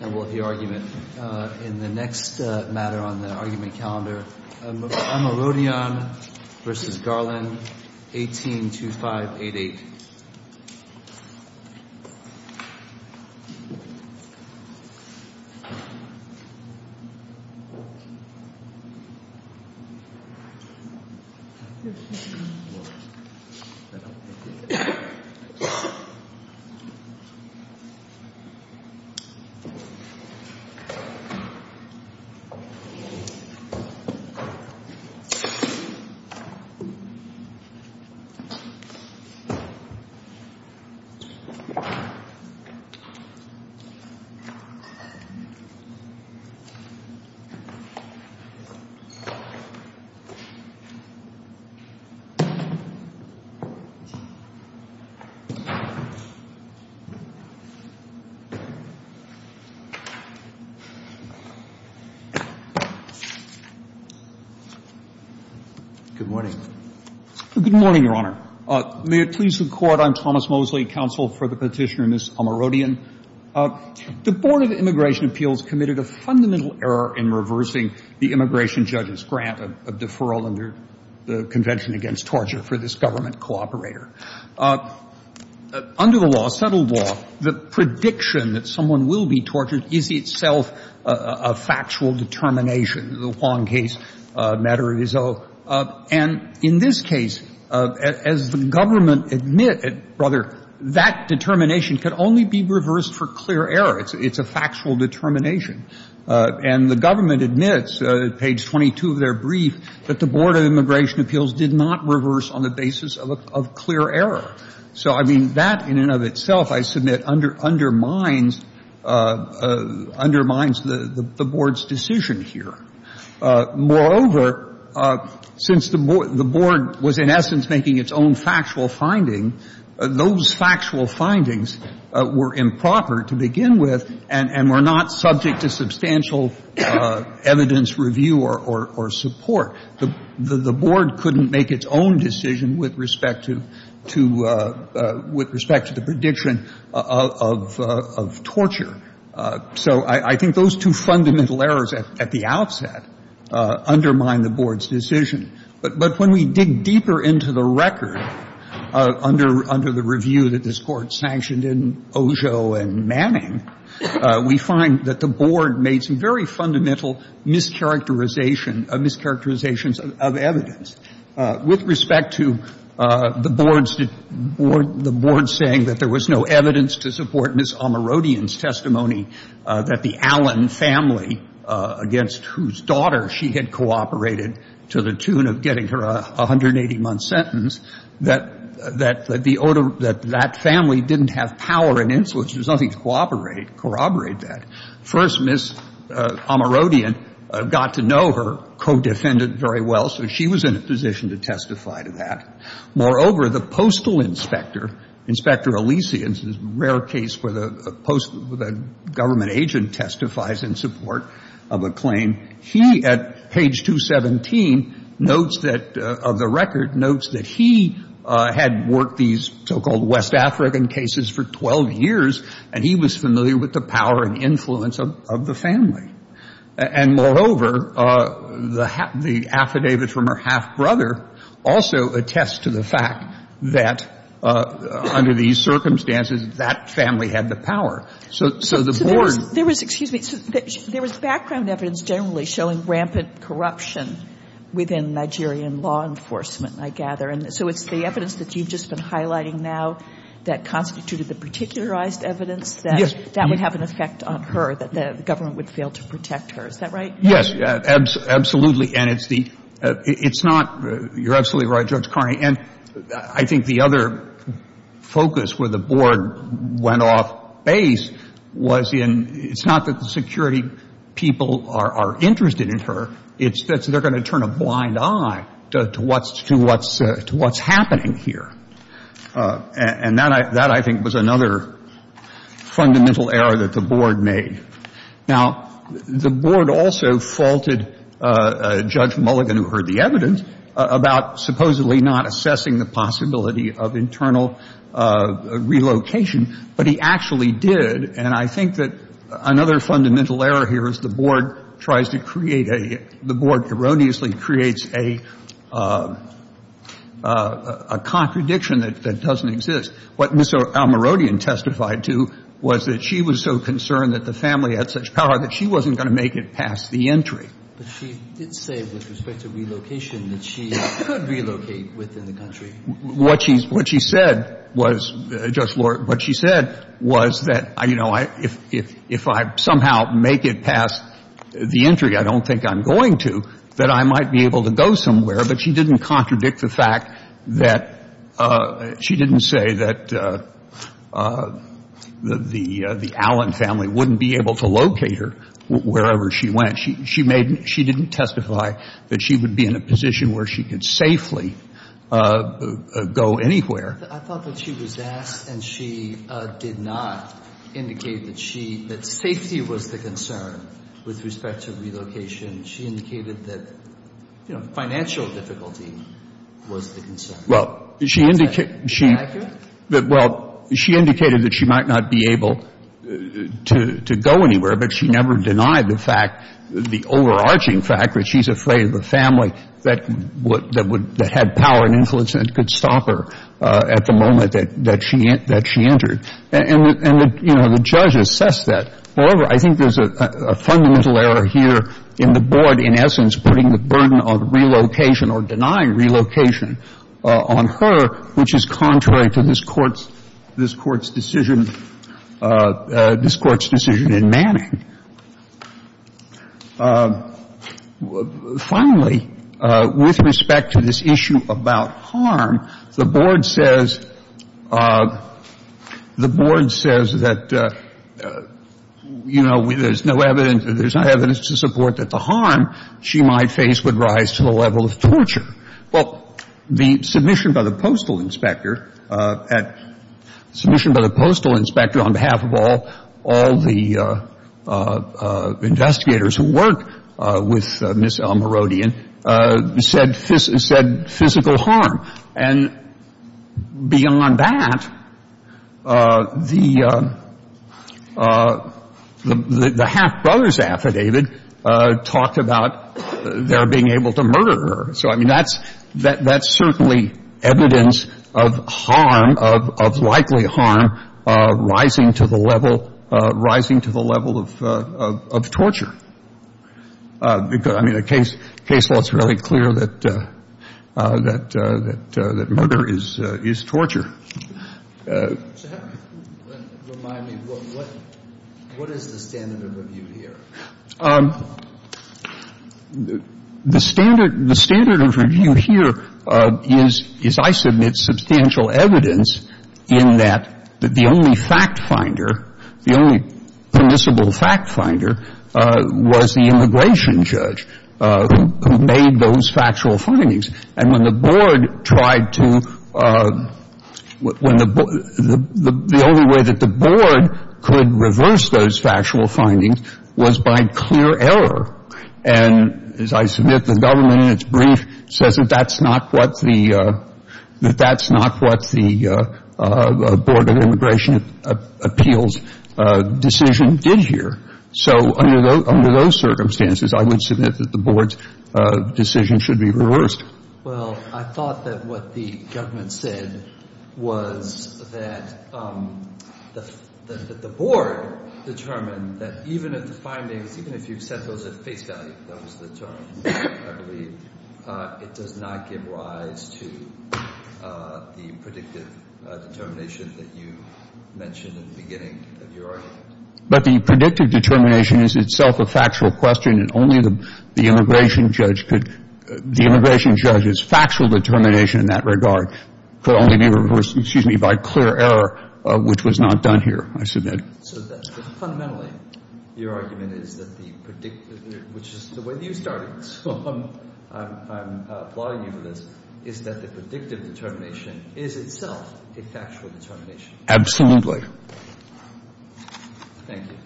And we'll have the argument in the next matter on the argument calendar. Amorodion v. Garland, 182588. Amorodion v. Garland, 182588. Good morning. Good morning, Your Honor. May it please the Court, I'm Thomas Mosley, counsel for the petitioner, Ms. Amorodion. The Board of Immigration Appeals committed a fundamental error in reversing the immigration judge's grant of deferral under the Convention Against Torture for this government cooperator. Under the law, settled law, the prediction that someone will be tortured is itself a factual determination, the Huang case, matter of his own. And in this case, as the government admitted, brother, that determination could only be reversed for clear error. It's a factual determination. And the government admits, page 22 of their brief, that the Board of Immigration So, I mean, that in and of itself, I submit, undermines the Board's decision here. Moreover, since the Board was in essence making its own factual finding, those factual findings were improper to begin with and were not subject to substantial evidence review or support. The Board couldn't make its own decision with respect to the prediction of torture. So I think those two fundamental errors at the outset undermine the Board's decision. But when we dig deeper into the record under the review that this Court sanctioned in Ojo and Manning, we find that the Board made some very fundamental mischaracterizations of evidence. With respect to the Board's saying that there was no evidence to support Ms. Omerodian's testimony that the Allen family, against whose daughter she had cooperated to the tune of getting her 180-month sentence, that that family didn't have power and influence, there was nothing to corroborate that. First, Ms. Omerodian got to know her co-defendant very well, so she was in a position to testify to that. Moreover, the postal inspector, Inspector Alesi, and this is a rare case where the government agent testifies in support of a claim, he at page 217 notes that, of the record, notes that he had worked these so-called West African cases for 12 years and he was familiar with the power and influence of the family. And moreover, the affidavit from her half-brother also attests to the fact that under these circumstances, that family had the power. So the Board — It's the evidence that you've just been highlighting now that constituted the particularized evidence that that would have an effect on her, that the government would fail to protect her. Is that right? Yes. Absolutely. And it's the — it's not — you're absolutely right, Judge Carney. And I think the other focus where the Board went off base was in — it's not that the security people are interested in her. It's that they're going to turn a blind eye to what's happening here. And that, I think, was another fundamental error that the Board made. Now, the Board also faulted Judge Mulligan, who heard the evidence, about supposedly not assessing the possibility of internal relocation, but he actually did. And I think that another fundamental error here is the Board tries to create a — the Board erroneously creates a contradiction that doesn't exist. What Ms. Almirodian testified to was that she was so concerned that the family had such power that she wasn't going to make it past the entry. But she did say, with respect to relocation, that she could relocate within the country. What she said was — Judge Lord, what she said was that, you know, if I somehow make it past the entry I don't think I'm going to, that I might be able to go somewhere. But she didn't contradict the fact that — she didn't say that the Allen family wouldn't be able to locate her wherever she went. She made — she didn't testify that she would be in a position where she could safely go anywhere. I thought that she was asked and she did not indicate that she — that safety was the concern with respect to relocation. She indicated that, you know, financial difficulty was the concern. Well, she — Is that accurate? Well, she indicated that she might not be able to go anywhere, but she never denied the fact — the overarching fact that she's afraid of a family that would — that had power and influence and could stop her at the moment that she entered. And, you know, the judge assessed that. However, I think there's a fundamental error here in the board, in essence, putting the burden of relocation or denying relocation on her, which is contrary to this Court's — this Court's decision — this Court's decision in Manning. Finally, with respect to this issue about harm, the board says — the board says that, you know, there's no evidence — there's no evidence to support that the harm she might face would rise to the level of torture. Well, the submission by the postal inspector at — the submission by the postal inspector on behalf of all — all the investigators who work with Ms. El-Merodian said — said physical harm. And beyond that, the — the half-brothers affidavit talked about their being able to murder her. So, I mean, that's — that's certainly evidence of harm, of likely harm, rising to the level — rising to the level of torture. Because, I mean, the case law is really clear that — that murder is torture. So how do you — remind me, what is the standard of review here? The standard — the standard of review here is, as I submit, substantial evidence in that the only fact-finder, the only permissible fact-finder was the immigration judge who made those factual findings. And when the board tried to — when the — the only way that the board could reverse those factual findings was by clear error. And as I submit, the government, in its brief, says that that's not what the — that that's not what the Board of Immigration Appeals decision did here. So under those circumstances, I would submit that the board's decision should be reversed. Well, I thought that what the government said was that the — that the board determined that even if the findings — even if you set those at face value, that was the term, I believe, it does not give rise to the predictive determination that you mentioned in the beginning of your argument. But the predictive determination is itself a factual question, and only the immigration judge could — the immigration judge's factual determination in that regard could only be reversed, excuse me, by clear error, which was not done here, I submit. So fundamentally, your argument is that the — which is the way that you started, so I'm applauding you for this — is that the predictive determination is itself a factual determination. Absolutely. Thank you.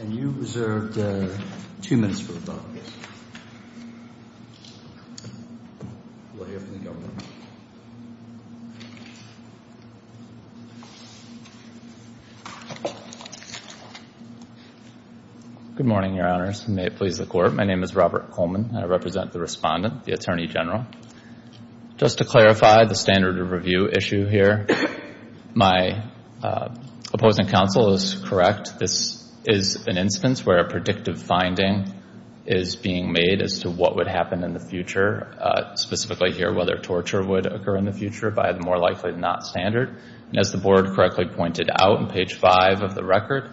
And you reserved two minutes for the public. We'll hear from the government. Good morning, Your Honors, and may it please the Court. My name is Robert Coleman, and I represent the Respondent, the Attorney General. Just to clarify the standard of review issue here, my opposing counsel is correct. This is an instance where a predictive finding is being made as to what would happen in the future, specifically here whether torture would occur in the future by the more likely than not standard. And as the board correctly pointed out on page five of the record,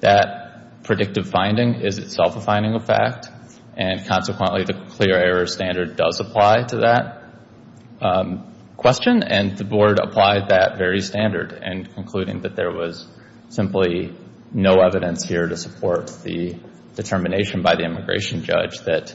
that predictive finding is itself a finding of fact, and consequently the clear error standard does apply to that question. And the board applied that very standard in concluding that there was simply no evidence here to support the determination by the immigration judge that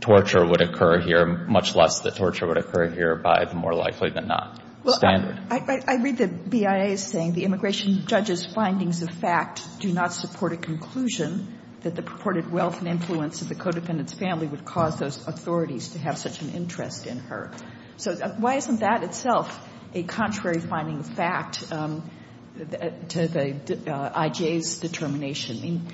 torture would occur here, much less that torture would occur here by the more likely than not standard. Well, I read the BIA as saying the immigration judge's findings of fact do not support a conclusion that the purported wealth and influence of the codependent's family would cause those authorities to have such an interest in her. So why isn't that itself a contrary finding of fact to the I.J.'s determination?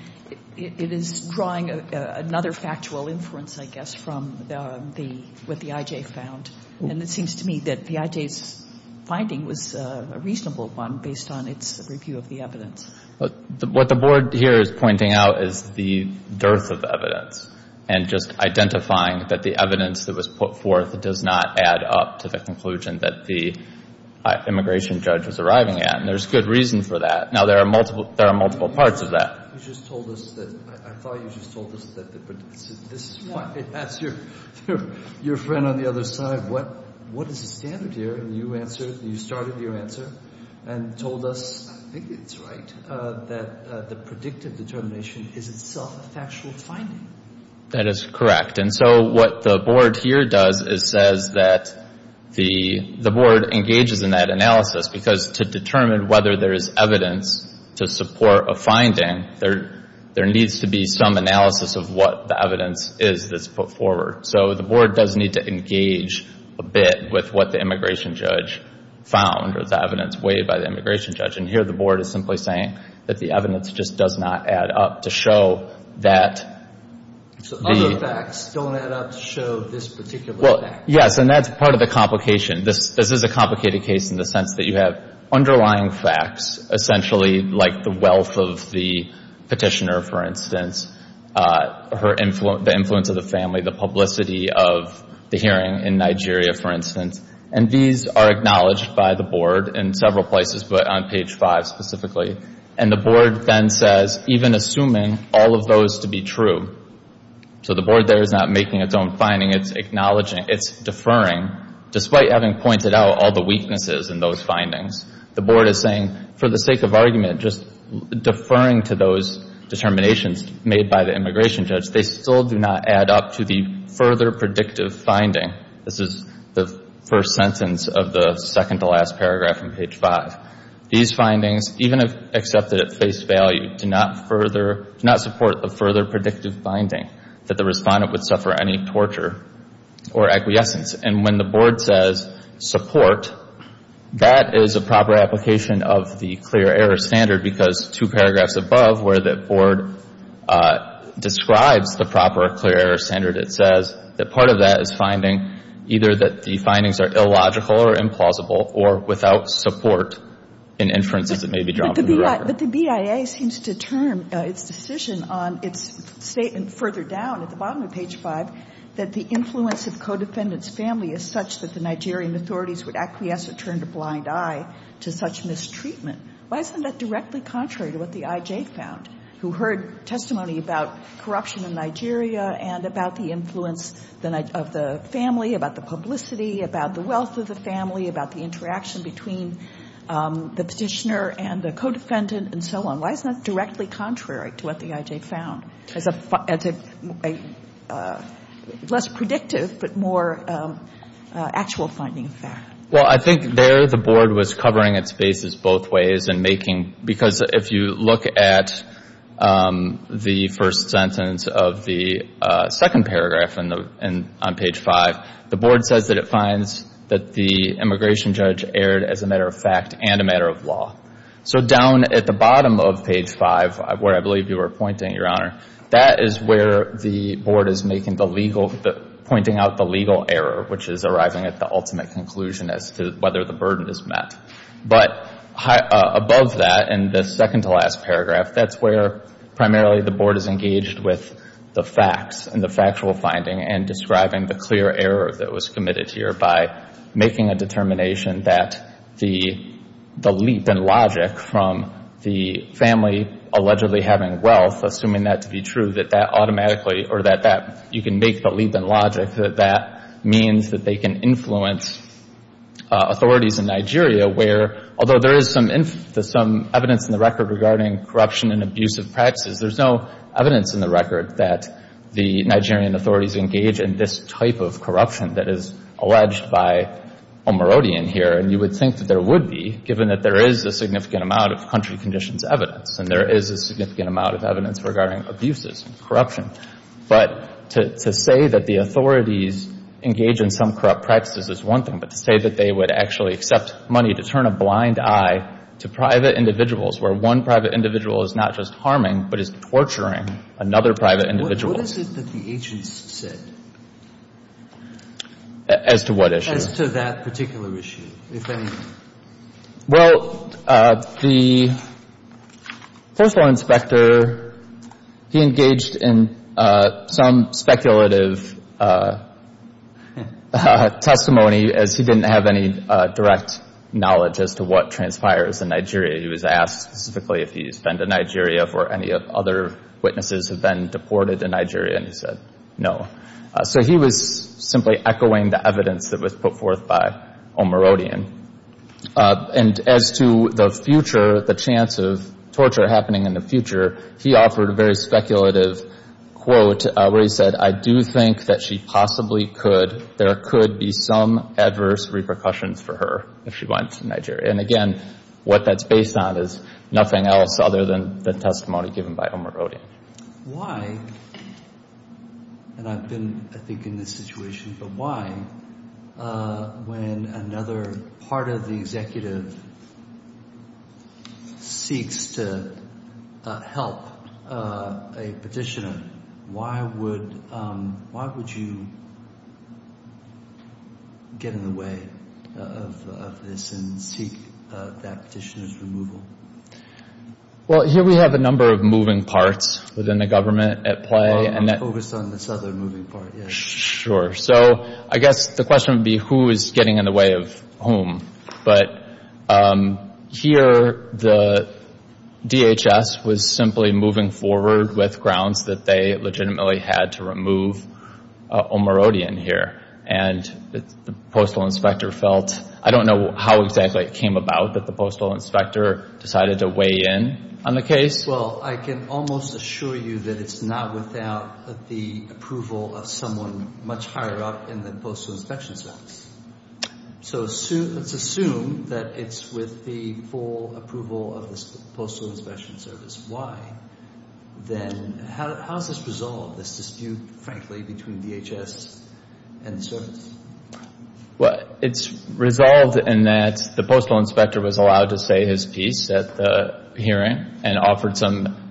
It is drawing another factual inference, I guess, from what the I.J. found. And it seems to me that the I.J.'s finding was a reasonable one based on its review of the evidence. What the board here is pointing out is the dearth of evidence and just identifying that the evidence that was put forth does not add up to the conclusion that the immigration judge was arriving at. And there's good reason for that. Now, there are multiple parts of that. You just told us that – I thought you just told us that the – this is why I asked your friend on the other side, what is the standard here? And you answered – you started your answer and told us – I think it's right – that the predictive determination is itself a factual finding. That is correct. And so what the board here does is says that the board engages in that analysis because to determine whether there is evidence to support a finding, there needs to be some analysis of what the evidence is that's put forward. So the board does need to engage a bit with what the immigration judge found or the evidence weighed by the immigration judge. And here the board is simply saying that the evidence just does not add up to show that the – So other facts don't add up to show this particular fact. Well, yes, and that's part of the complication. This is a complicated case in the sense that you have underlying facts, essentially like the wealth of the petitioner, for instance, the influence of the family, the publicity of the hearing in Nigeria, for instance. And these are acknowledged by the board in several places, but on page five specifically. And the board then says, even assuming all of those to be true – so the board there is not making its own finding. It's acknowledging – it's deferring, despite having pointed out all the weaknesses in those findings. The board is saying, for the sake of argument, just deferring to those determinations made by the immigration judge, they still do not add up to the further predictive finding. This is the first sentence of the second-to-last paragraph on page five. These findings, even if accepted at face value, do not further – do not support the further predictive finding that the respondent would suffer any torture or acquiescence. And when the board says support, that is a proper application of the clear error standard because two paragraphs above where the board describes the proper clear error standard, it says that part of that is finding either that the findings are illogical or implausible or without support in inferences that may be drawn from the record. But the BIA seems to turn its decision on its statement further down at the bottom of page five that the influence of codefendant's family is such that the Nigerian authorities would acquiesce or turn a blind eye to such mistreatment. Why isn't that directly contrary to what the IJ found, who heard testimony about corruption in Nigeria and about the influence of the family, about the publicity, about the wealth of the family, about the interaction between the petitioner and the codefendant and so on? Why isn't that directly contrary to what the IJ found as a less predictive but more actual finding of fact? Well, I think there the board was covering its faces both ways and making, because if you look at the first sentence of the second paragraph on page five, the board says that it finds that the immigration judge erred as a matter of fact and a matter of law. So down at the bottom of page five, where I believe you were pointing, Your Honor, that is where the board is pointing out the legal error, which is arriving at the ultimate conclusion as to whether the burden is met. But above that, in the second-to-last paragraph, that's where primarily the board is engaged with the facts and the factual finding and describing the clear error that was committed here by making a determination that the leap in logic from the family allegedly having wealth, assuming that to be true, that that automatically or that you can make the leap in logic, that that means that they can influence authorities in Nigeria, where although there is some evidence in the record regarding corruption and abusive practices, there's no evidence in the record that the Nigerian authorities engage in this type of corruption that is alleged by Omarodian here. And you would think that there would be, given that there is a significant amount of country conditions evidence and there is a significant amount of evidence regarding abuses and corruption, but to say that the authorities engage in some corrupt practices is one thing, but to say that they would actually accept money to turn a blind eye to private individuals where one private individual is not just harming but is torturing another private individual. What is it that the agents said? As to what issue? As to that particular issue, if any. Well, the First Law Inspector, he engaged in some speculative testimony as he didn't have any direct knowledge as to what transpires in Nigeria. He was asked specifically if he's been to Nigeria for any other witnesses have been deported to Nigeria, and he said no. So he was simply echoing the evidence that was put forth by Omarodian. And as to the future, the chance of torture happening in the future, he offered a very speculative quote where he said, I do think that she possibly could, there could be some adverse repercussions for her if she went to Nigeria. And, again, what that's based on is nothing else other than the testimony given by Omarodian. Why, and I've been, I think, in this situation, but why, when another part of the executive seeks to help a petitioner, why would you get in the way of this and seek that petitioner's removal? Well, here we have a number of moving parts within the government at play. Let's focus on this other moving part. Sure. So I guess the question would be who is getting in the way of whom. But here the DHS was simply moving forward with grounds that they legitimately had to remove Omarodian here. And the Postal Inspector felt, I don't know how exactly it came about, but the Postal Inspector decided to weigh in on the case. Well, I can almost assure you that it's not without the approval of someone much higher up in the Postal Inspection Service. So let's assume that it's with the full approval of the Postal Inspection Service. Why? Then how is this resolved, this dispute, frankly, between DHS and the service? Well, it's resolved in that the Postal Inspector was allowed to say his piece at the hearing and offered some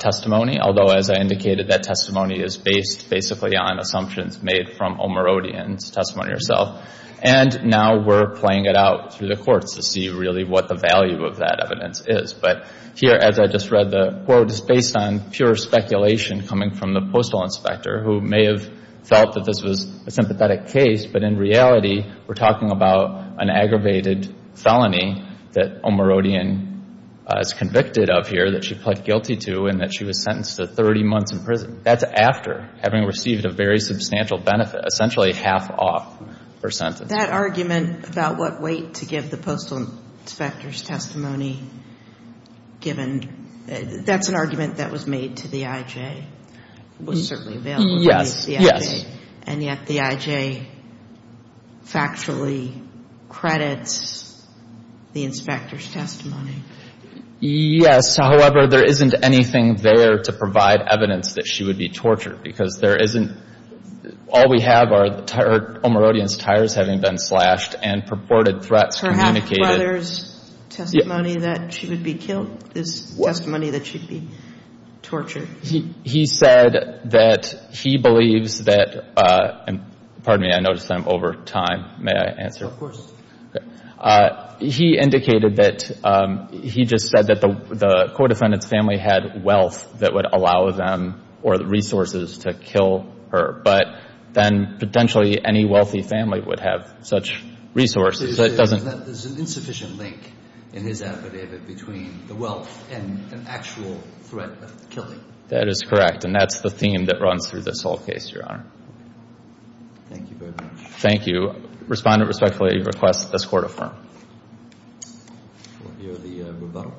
testimony, although, as I indicated, that testimony is based basically on assumptions made from Omarodian's testimony herself. And now we're playing it out through the courts to see really what the value of that evidence is. But here, as I just read the quote, it's based on pure speculation coming from the Postal Inspector, who may have felt that this was a sympathetic case, but in reality we're talking about an aggravated felony that Omarodian is convicted of here, that she pled guilty to, and that she was sentenced to 30 months in prison. That's after having received a very substantial benefit, essentially half off her sentence. That argument about what weight to give the Postal Inspector's testimony, given that's an argument that was made to the IJ. It was certainly available to the IJ. Yes, yes. And yet the IJ factually credits the Inspector's testimony. Yes. However, there isn't anything there to provide evidence that she would be tortured, because there isn't. All we have are Omarodian's tires having been slashed and purported threats communicated. Omarodian's brother's testimony that she would be killed is testimony that she'd be tortured. He said that he believes that – pardon me, I noticed I'm over time. May I answer? Of course. Okay. He indicated that – he just said that the co-defendant's family had wealth that would allow them or the resources to kill her, but then potentially any wealthy family would have such resources. There's an insufficient link in his affidavit between the wealth and an actual threat of killing. That is correct, and that's the theme that runs through this whole case, Your Honor. Thank you very much. Thank you. Respondent respectfully requests that this Court affirm. We'll hear the rebuttal.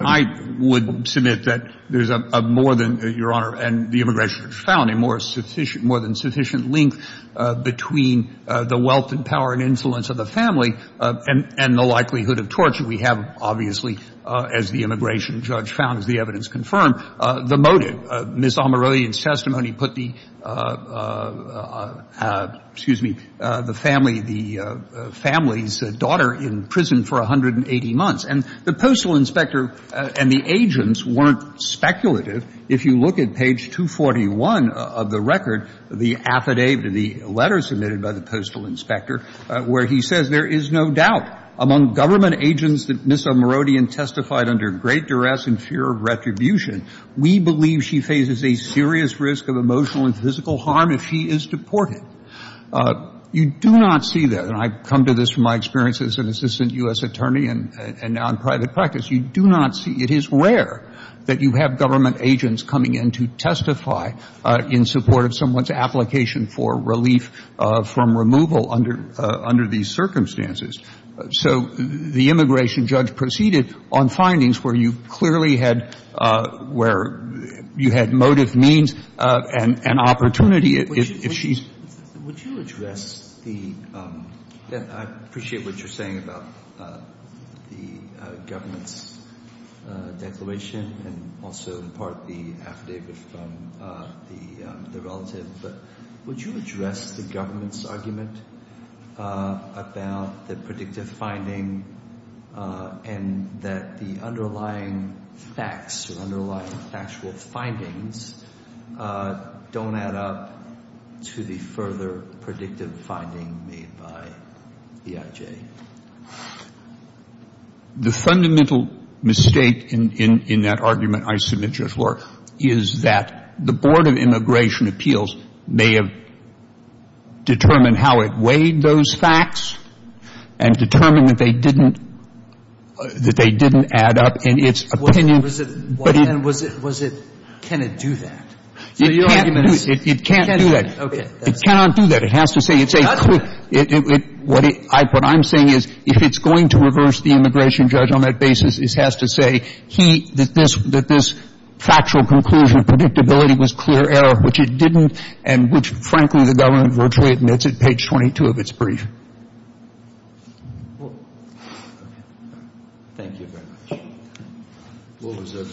I would submit that there's a more than, Your Honor, and the immigration judge found a more than sufficient link between the wealth and power and influence of the family and the likelihood of torture. We have, obviously, as the immigration judge found, as the evidence confirmed, the motive of the family's death. Ms. O'Merodean's testimony put the – excuse me – the family's daughter in prison for 180 months. And the postal inspector and the agents weren't speculative. If you look at page 241 of the record, the affidavit, the letter submitted by the postal inspector, where he says, there is no doubt among government agents that Ms. O'Merodean testified under great duress and fear of retribution, we believe she faces a serious risk of emotional and physical harm if she is deported. You do not see that. And I come to this from my experience as an assistant U.S. attorney and now in private practice. You do not see. It is rare that you have government agents coming in to testify in support of someone's application for relief from removal under these circumstances. So the immigration judge proceeded on findings where you clearly had – where you had motive, means, and opportunity. If she's – Would you address the – I appreciate what you're saying about the government's declaration and also, in part, the affidavit from the relative. But would you address the government's argument about the predictive finding and that the underlying facts or underlying factual findings don't add up to the further predictive finding made by EIJ? The fundamental mistake in that argument I submitted before is that the Board of Immigration Appeals may have determined how it weighed those facts and determined that they didn't add up in its opinion. Was it – can it do that? It can't do that. It cannot do that. It has to say – It's not – What I'm saying is if it's going to reverse the immigration judge on that basis, it has to say he – that this factual conclusion of predictability was clear error, which it didn't, and which, frankly, the government virtually admits at page 22 of its brief. Thank you very much. We'll reserve the decision.